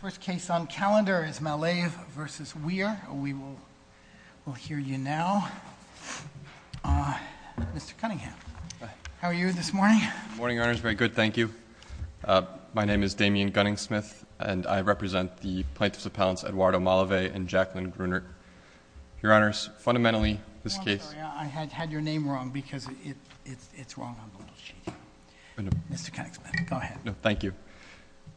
First case on calendar is Malave v. Weir. We will hear you now. Mr. Cunningham, how are you this morning? Good morning, Your Honors. Very good, thank you. My name is Damian Gunningsmith, and I represent the plaintiffs' appellants Eduardo Malave and Jacqueline Grunert. Your Honors, fundamentally this case— I'm sorry, I had your name wrong because it's wrong on the little sheet. Mr. Gunningsmith, go ahead. No, thank you.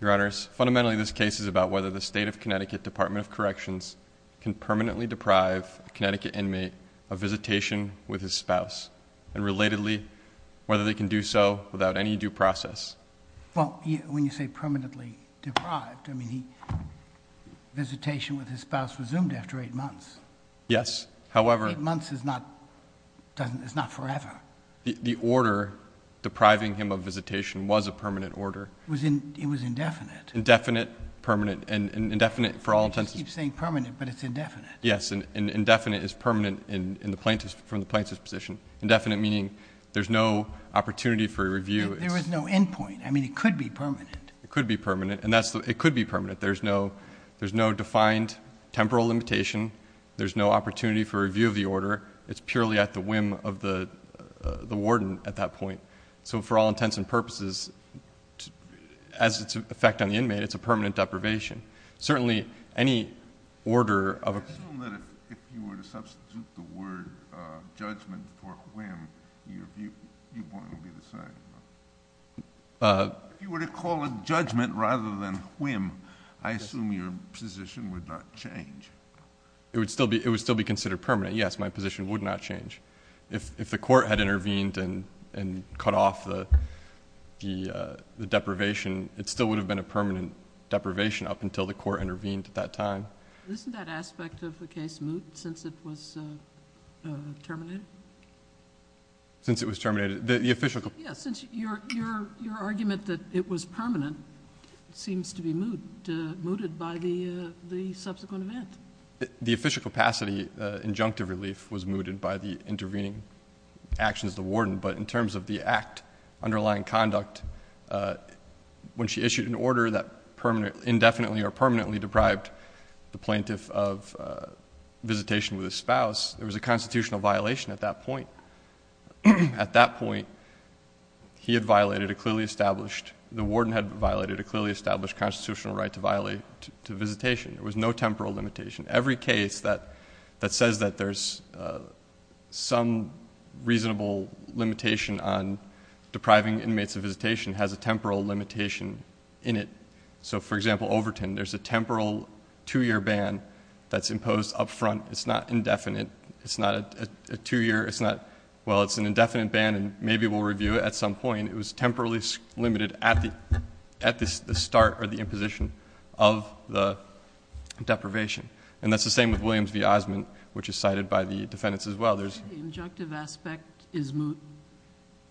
Your Honors, fundamentally this case is about whether the State of Connecticut Department of Corrections can permanently deprive a Connecticut inmate of visitation with his spouse, and relatedly, whether they can do so without any due process. Well, when you say permanently deprived, I mean visitation with his spouse resumed after eight months. Yes, however— Eight months is not forever. The order depriving him of visitation was a permanent order. It was indefinite. Indefinite, permanent, and indefinite for all intents— You keep saying permanent, but it's indefinite. Yes, and indefinite is permanent from the plaintiff's position. Indefinite meaning there's no opportunity for a review. There was no endpoint. I mean, it could be permanent. It could be permanent, and it could be permanent. There's no opportunity for a review of the order. It's purely at the whim of the warden at that point. So for all intents and purposes, as its effect on the inmate, it's a permanent deprivation. Certainly, any order of— I assume that if you were to substitute the word judgment for whim, your viewpoint would be the same. If you were to call it judgment rather than whim, I assume your position would not change. It would still be considered permanent. Yes, my position would not change. If the court had intervened and cut off the deprivation, it still would have been a permanent deprivation up until the court intervened at that time. Isn't that aspect of the case moot since it was terminated? Since it was terminated? Yes, since your argument that it was permanent seems to be mooted by the subsequent event. The official capacity injunctive relief was mooted by the intervening actions of the warden, but in terms of the underlying conduct, when she issued an order that indefinitely or permanently deprived the plaintiff of visitation with his spouse, there was a constitutional violation at that point. At that point, he had violated a clearly established— the warden had violated a clearly established constitutional right to visitation. There was no temporal limitation. Every case that says that there's some reasonable limitation on depriving inmates of visitation has a temporal limitation in it. So, for example, Overton, there's a temporal two-year ban that's imposed up front. It's not indefinite. It's not a two-year. It's not, well, it's an indefinite ban, and maybe we'll review it at some point. And it was temporarily limited at the start or the imposition of the deprivation. And that's the same with Williams v. Osmond, which is cited by the defendants as well. The injunctive aspect is mooted?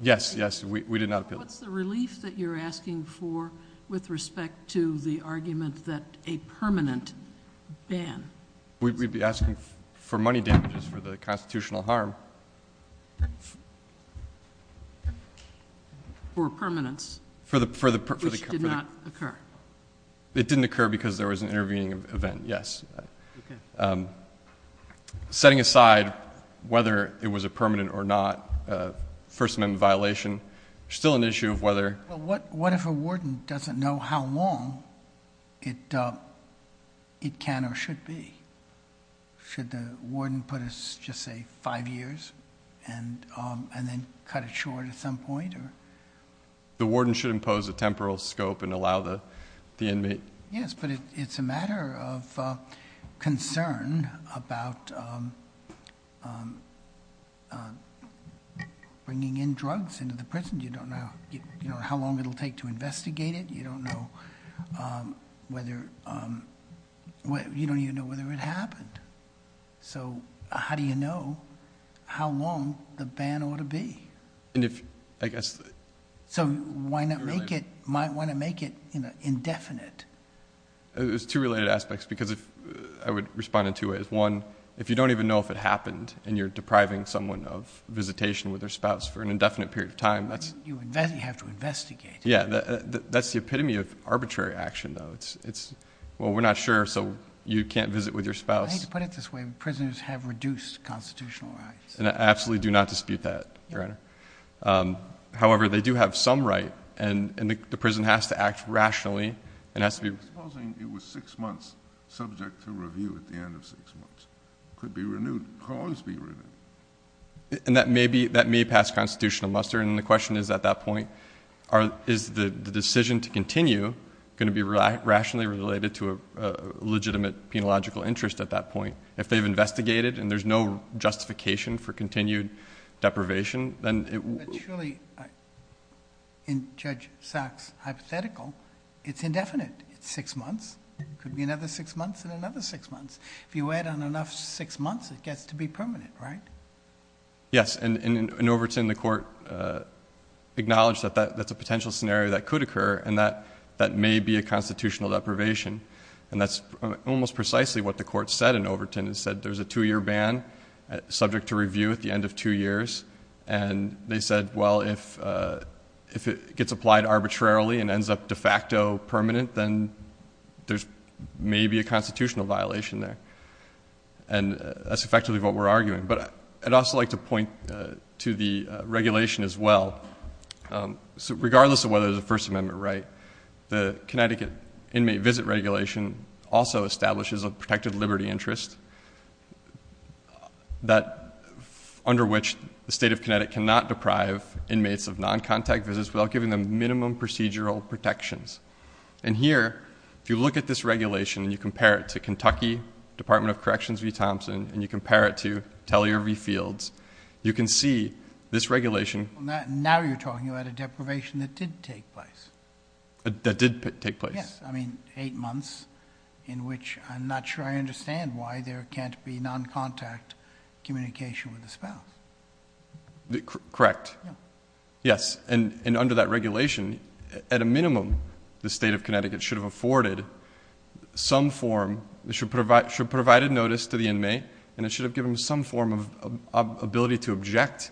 Yes, yes. We did not appeal it. What's the relief that you're asking for with respect to the argument that a permanent ban— We'd be asking for money damages for the constitutional harm. For permanence, which did not occur. It didn't occur because there was an intervening event, yes. Setting aside whether it was a permanent or not First Amendment violation, there's still an issue of whether— What if a warden doesn't know how long it can or should be? Should the warden put us, just say, five years and then cut it short at some point? The warden should impose a temporal scope and allow the inmate— Yes, but it's a matter of concern about bringing in drugs into the prison. You don't know how long it'll take to investigate it. You don't even know whether it happened. So how do you know how long the ban ought to be? So why not make it indefinite? There's two related aspects, because I would respond in two ways. One, if you don't even know if it happened and you're depriving someone of visitation with their spouse for an indefinite period of time— You have to investigate it. That's the epitome of arbitrary action, though. Well, we're not sure, so you can't visit with your spouse. I hate to put it this way, but prisoners have reduced constitutional rights. I absolutely do not dispute that, Your Honor. However, they do have some right, and the prison has to act rationally. Supposing it was six months subject to review at the end of six months. It could be renewed. It could always be renewed. And that may pass constitutional muster, and the question is at that point, is the decision to continue going to be rationally related to a legitimate penological interest at that point? If they've investigated and there's no justification for continued deprivation, then it would— But surely, in Judge Sachs' hypothetical, it's indefinite. It's six months. It could be another six months and another six months. If you wait on enough six months, it gets to be permanent, right? Yes, and in Overton, the court acknowledged that that's a potential scenario that could occur, and that that may be a constitutional deprivation, and that's almost precisely what the court said in Overton. It said there's a two-year ban subject to review at the end of two years, and they said, well, if it gets applied arbitrarily and ends up de facto permanent, then there's maybe a constitutional violation there, and that's effectively what we're arguing. But I'd also like to point to the regulation as well. Regardless of whether there's a First Amendment right, the Connecticut Inmate Visit Regulation also establishes a protected liberty interest under which the state of Connecticut cannot deprive inmates of noncontact visits without giving them minimum procedural protections. And here, if you look at this regulation and you compare it to Kentucky, Department of Corrections v. Thompson, and you compare it to Tellier v. Fields, you can see this regulation— Now you're talking about a deprivation that did take place. That did take place. Yes, I mean eight months in which I'm not sure I understand why there can't be noncontact communication with the spouse. Correct. Yes, and under that regulation, at a minimum, the state of Connecticut should have provided notice to the inmate and it should have given them some form of ability to object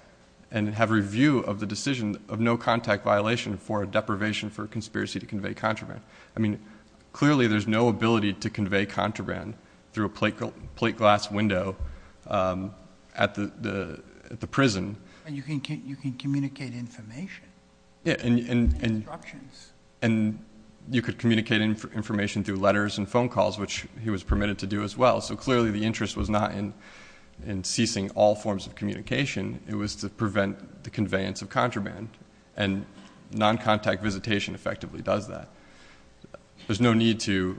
and have review of the decision of no contact violation for a deprivation for conspiracy to convey contraband. I mean clearly there's no ability to convey contraband through a plate glass window at the prison. And you can communicate information. And you could communicate information through letters and phone calls, which he was permitted to do as well. So clearly the interest was not in ceasing all forms of communication. It was to prevent the conveyance of contraband, and noncontact visitation effectively does that. There's no need to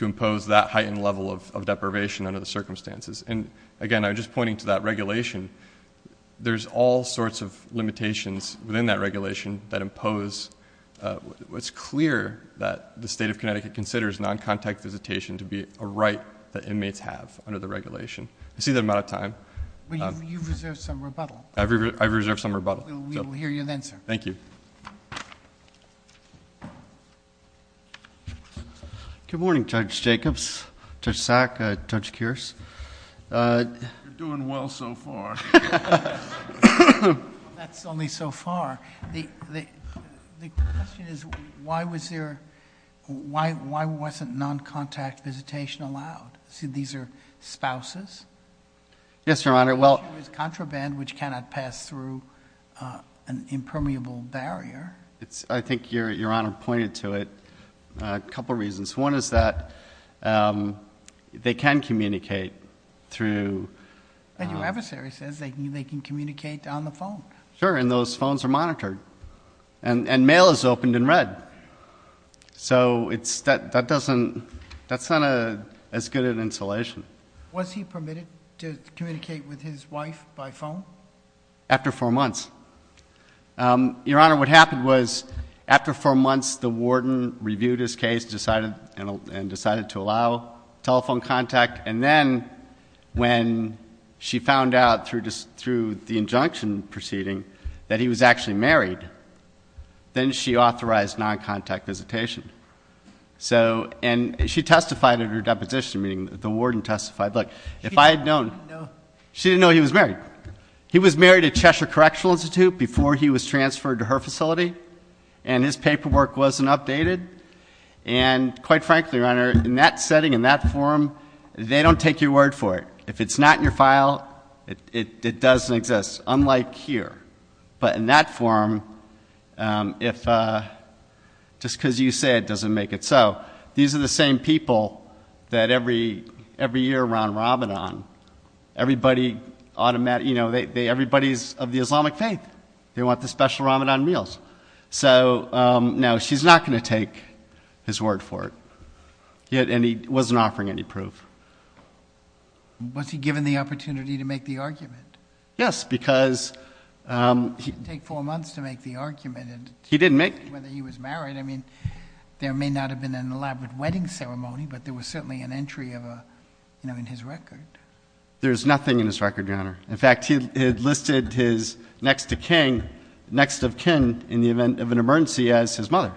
impose that heightened level of deprivation under the circumstances. And again, I'm just pointing to that regulation. There's all sorts of limitations within that regulation that impose— it's clear that the state of Connecticut considers noncontact visitation to be a right that inmates have under the regulation. I see that I'm out of time. You've reserved some rebuttal. I've reserved some rebuttal. We will hear you then, sir. Thank you. Good morning, Judge Jacobs, Judge Sack, Judge Kearse. You're doing well so far. That's only so far. The question is why wasn't noncontact visitation allowed? These are spouses? Yes, Your Honor. Contraband which cannot pass through an impermeable barrier. I think Your Honor pointed to it. A couple reasons. One is that they can communicate through— Your adversary says they can communicate on the phone. Sure, and those phones are monitored. And mail is opened and read. So that's not as good an installation. Was he permitted to communicate with his wife by phone? After four months. Your Honor, what happened was after four months the warden reviewed his case and decided to allow telephone contact. And then when she found out through the injunction proceeding that he was actually married, then she authorized noncontact visitation. And she testified at her deposition meeting. The warden testified. She didn't know he was married. He was married at Cheshire Correctional Institute before he was transferred to her facility, and his paperwork wasn't updated. And quite frankly, Your Honor, in that setting, in that forum, they don't take your word for it. If it's not in your file, it doesn't exist, unlike here. But in that forum, just because you say it doesn't make it so. These are the same people that every year around Ramadan, everybody's of the Islamic faith. They want the special Ramadan meals. So, no, she's not going to take his word for it. And he wasn't offering any proof. Was he given the opportunity to make the argument? Yes, because... It would take four months to make the argument. He didn't make it. Whether he was married. I mean, there may not have been an elaborate wedding ceremony, but there was certainly an entry in his record. There's nothing in his record, Your Honor. In fact, he had listed his next of kin in the event of an emergency as his mother.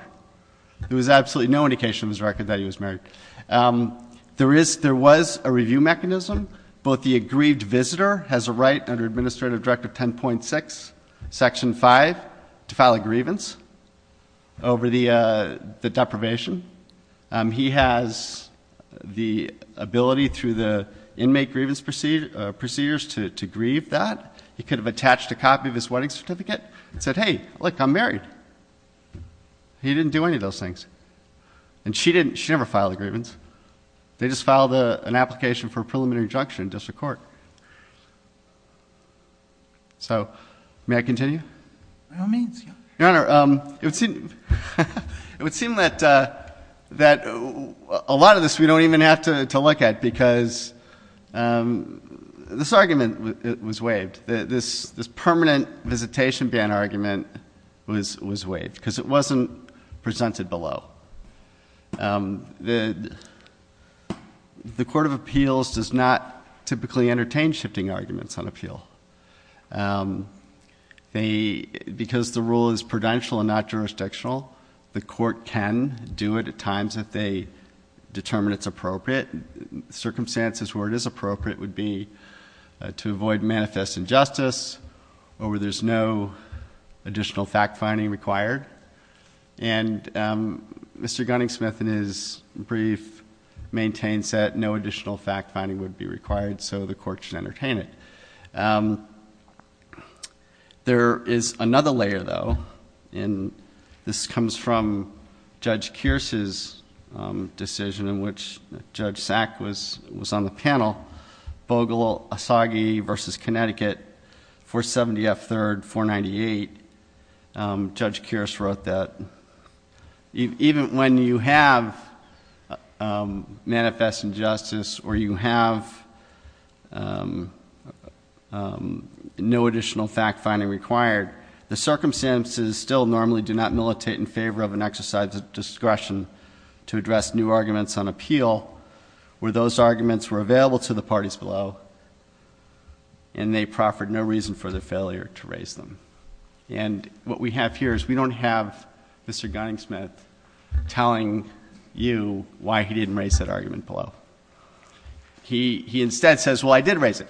There was absolutely no indication in his record that he was married. There was a review mechanism. Both the aggrieved visitor has a right under Administrative Directive 10.6, Section 5, to file a grievance over the deprivation. He has the ability through the inmate grievance procedures to grieve that. He could have attached a copy of his wedding certificate and said, hey, look, I'm married. He didn't do any of those things. And she never filed a grievance. They just filed an application for a preliminary injunction in district court. So may I continue? By all means. Your Honor, it would seem that a lot of this we don't even have to look at because this argument was waived. This permanent visitation ban argument was waived because it wasn't presented below. The Court of Appeals does not typically entertain shifting arguments on appeal. Because the rule is prudential and not jurisdictional, the court can do it at times if they determine it's appropriate. Circumstances where it is appropriate would be to avoid manifest injustice or where there's no additional fact-finding required. And Mr. Gunning-Smith in his brief maintains that no additional fact-finding would be required, so the court should entertain it. There is another layer, though, and this comes from Judge Kearse's decision in which Judge Sack was on the panel. Bogle-Asagi v. Connecticut, 470 F. 3rd, 498. Judge Kearse wrote that even when you have manifest injustice or you have no additional fact-finding required, the circumstances still normally do not militate in favor of an exercise of discretion to address new arguments on appeal. Where those arguments were available to the parties below and they proffered no reason for their failure to raise them. And what we have here is we don't have Mr. Gunning-Smith telling you why he didn't raise that argument below. He instead says, well, I did raise it.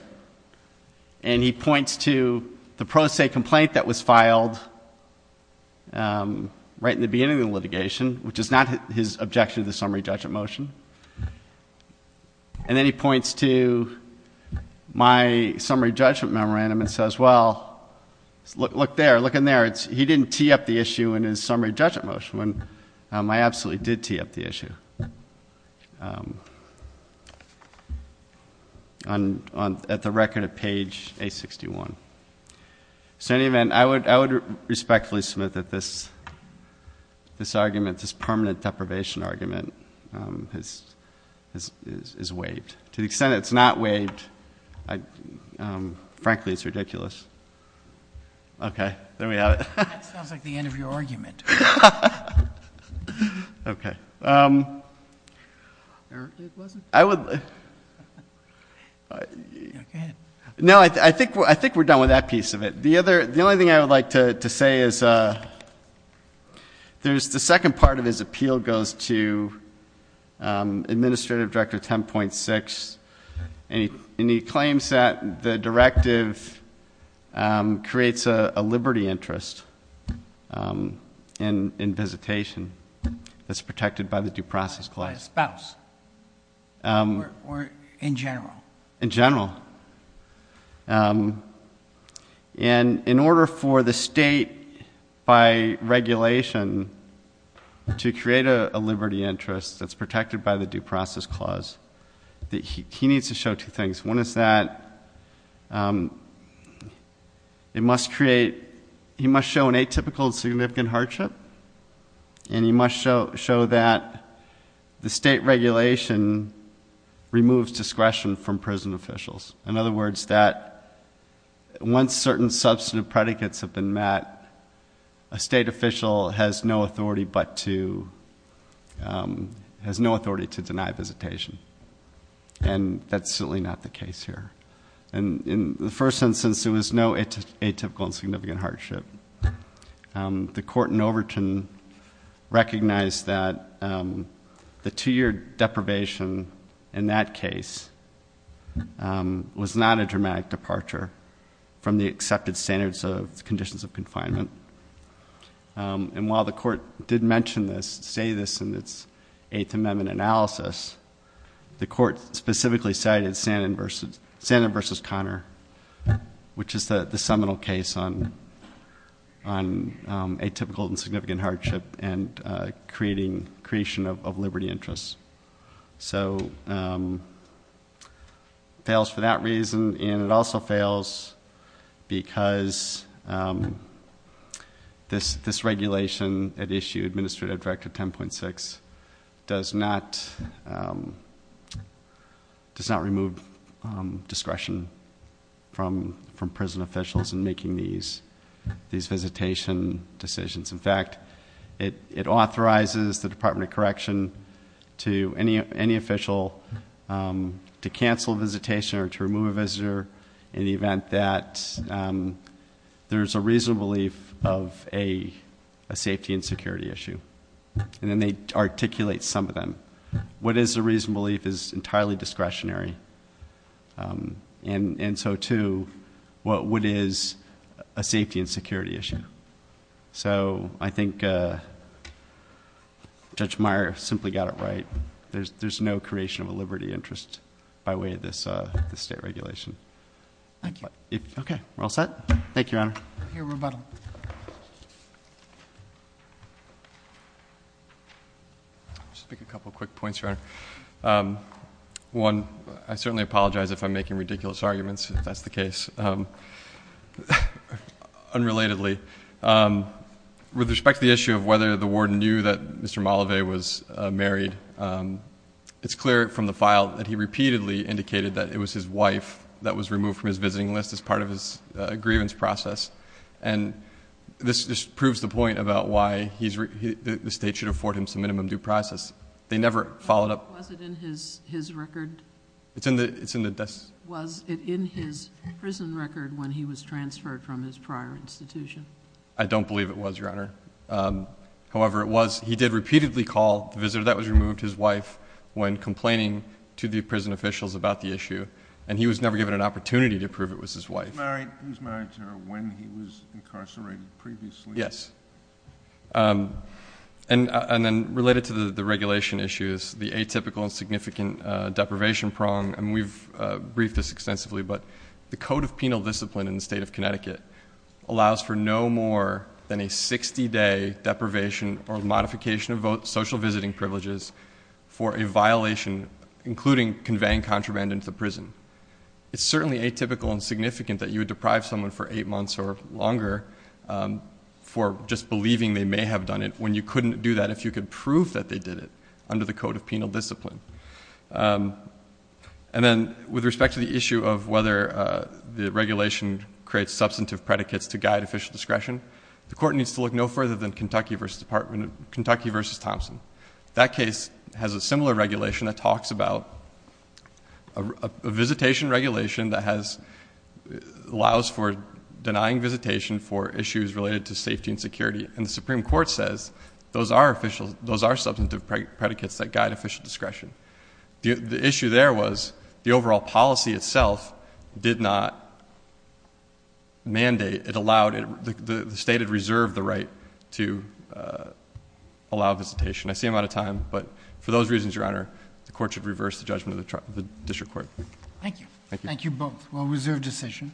And he points to the pro se complaint that was filed right in the beginning of the litigation, which is not his objection to the summary judgment motion. And then he points to my summary judgment memorandum and says, well, look there, look in there. He didn't tee up the issue in his summary judgment motion. I absolutely did tee up the issue at the record of page A61. So in any event, I would respectfully submit that this argument, this permanent deprivation argument is waived. To the extent it's not waived, frankly, it's ridiculous. Okay. There we have it. That sounds like the end of your argument. Okay. Okay. No, I think we're done with that piece of it. The only thing I would like to say is the second part of his appeal goes to Administrative Director 10.6, and he claims that the directive creates a liberty interest in visitation that's protected by the Due Process Clause. By a spouse. Or in general. In general. And in order for the state, by regulation, to create a liberty interest that's protected by the Due Process Clause, he needs to show two things. One is that it must create, he must show an atypical significant hardship, and he must show that the state regulation removes discretion from prison officials. In other words, that once certain substantive predicates have been met, a state official has no authority to deny visitation. And that's certainly not the case here. In the first instance, there was no atypical significant hardship. The court in Overton recognized that the two-year deprivation in that case was not a dramatic departure from the accepted standards of conditions of confinement. And while the court did mention this, say this in its Eighth Amendment analysis, the court specifically cited Sandin v. Conner, which is the seminal case on atypical and significant hardship and creation of liberty interests. So it fails for that reason, and it also fails because this regulation at issue, Administrative Directive 10.6, does not remove discretion from prison officials in making these visitation decisions. In fact, it authorizes the Department of Correction to any official to cancel visitation or to remove a visitor in the event that there's a reasonable belief of a safety and security issue. And then they articulate some of them. What is a reasonable belief is entirely discretionary, and so too, what is a safety and security issue. So I think Judge Meyer simply got it right. There's no creation of a liberty interest by way of this state regulation. Thank you. Okay, we're all set? Thank you, Your Honor. I hear rebuttal. I'll just make a couple quick points, Your Honor. One, I certainly apologize if I'm making ridiculous arguments, if that's the case. Unrelatedly, with respect to the issue of whether the warden knew that Mr. Malavey was married, it's clear from the file that he repeatedly indicated that it was his wife that was removed from his visiting list as part of his grievance process. And this just proves the point about why the state should afford him some minimum due process. They never followed up. Was it in his record? It's in the desk. Was it in his prison record when he was transferred from his prior institution? I don't believe it was, Your Honor. However, it was. He did repeatedly call the visitor that was removed, his wife, when complaining to the prison officials about the issue, and he was never given an opportunity to prove it was his wife. He was married to her when he was incarcerated previously? Yes. And then related to the regulation issues, the atypical and significant deprivation prong, and we've briefed this extensively, but the Code of Penal Discipline in the State of Connecticut allows for no more than a 60-day deprivation or modification of social visiting privileges for a violation, including conveying contraband into the prison. It's certainly atypical and significant that you would deprive someone for eight months or longer for just believing they may have done it when you couldn't do that if you could prove that they did it under the Code of Penal Discipline. And then with respect to the issue of whether the regulation creates substantive predicates to guide official discretion, the Court needs to look no further than Kentucky v. Thompson. That case has a similar regulation that talks about a visitation regulation that allows for denying visitation for issues related to safety and security, and the Supreme Court says those are substantive predicates that guide official discretion. The issue there was the overall policy itself did not mandate, it allowed, the State had reserved the right to allow visitation. I see I'm out of time, but for those reasons, Your Honor, the Court should reverse the judgment of the District Court. Thank you. Thank you both. Well, reserved decision.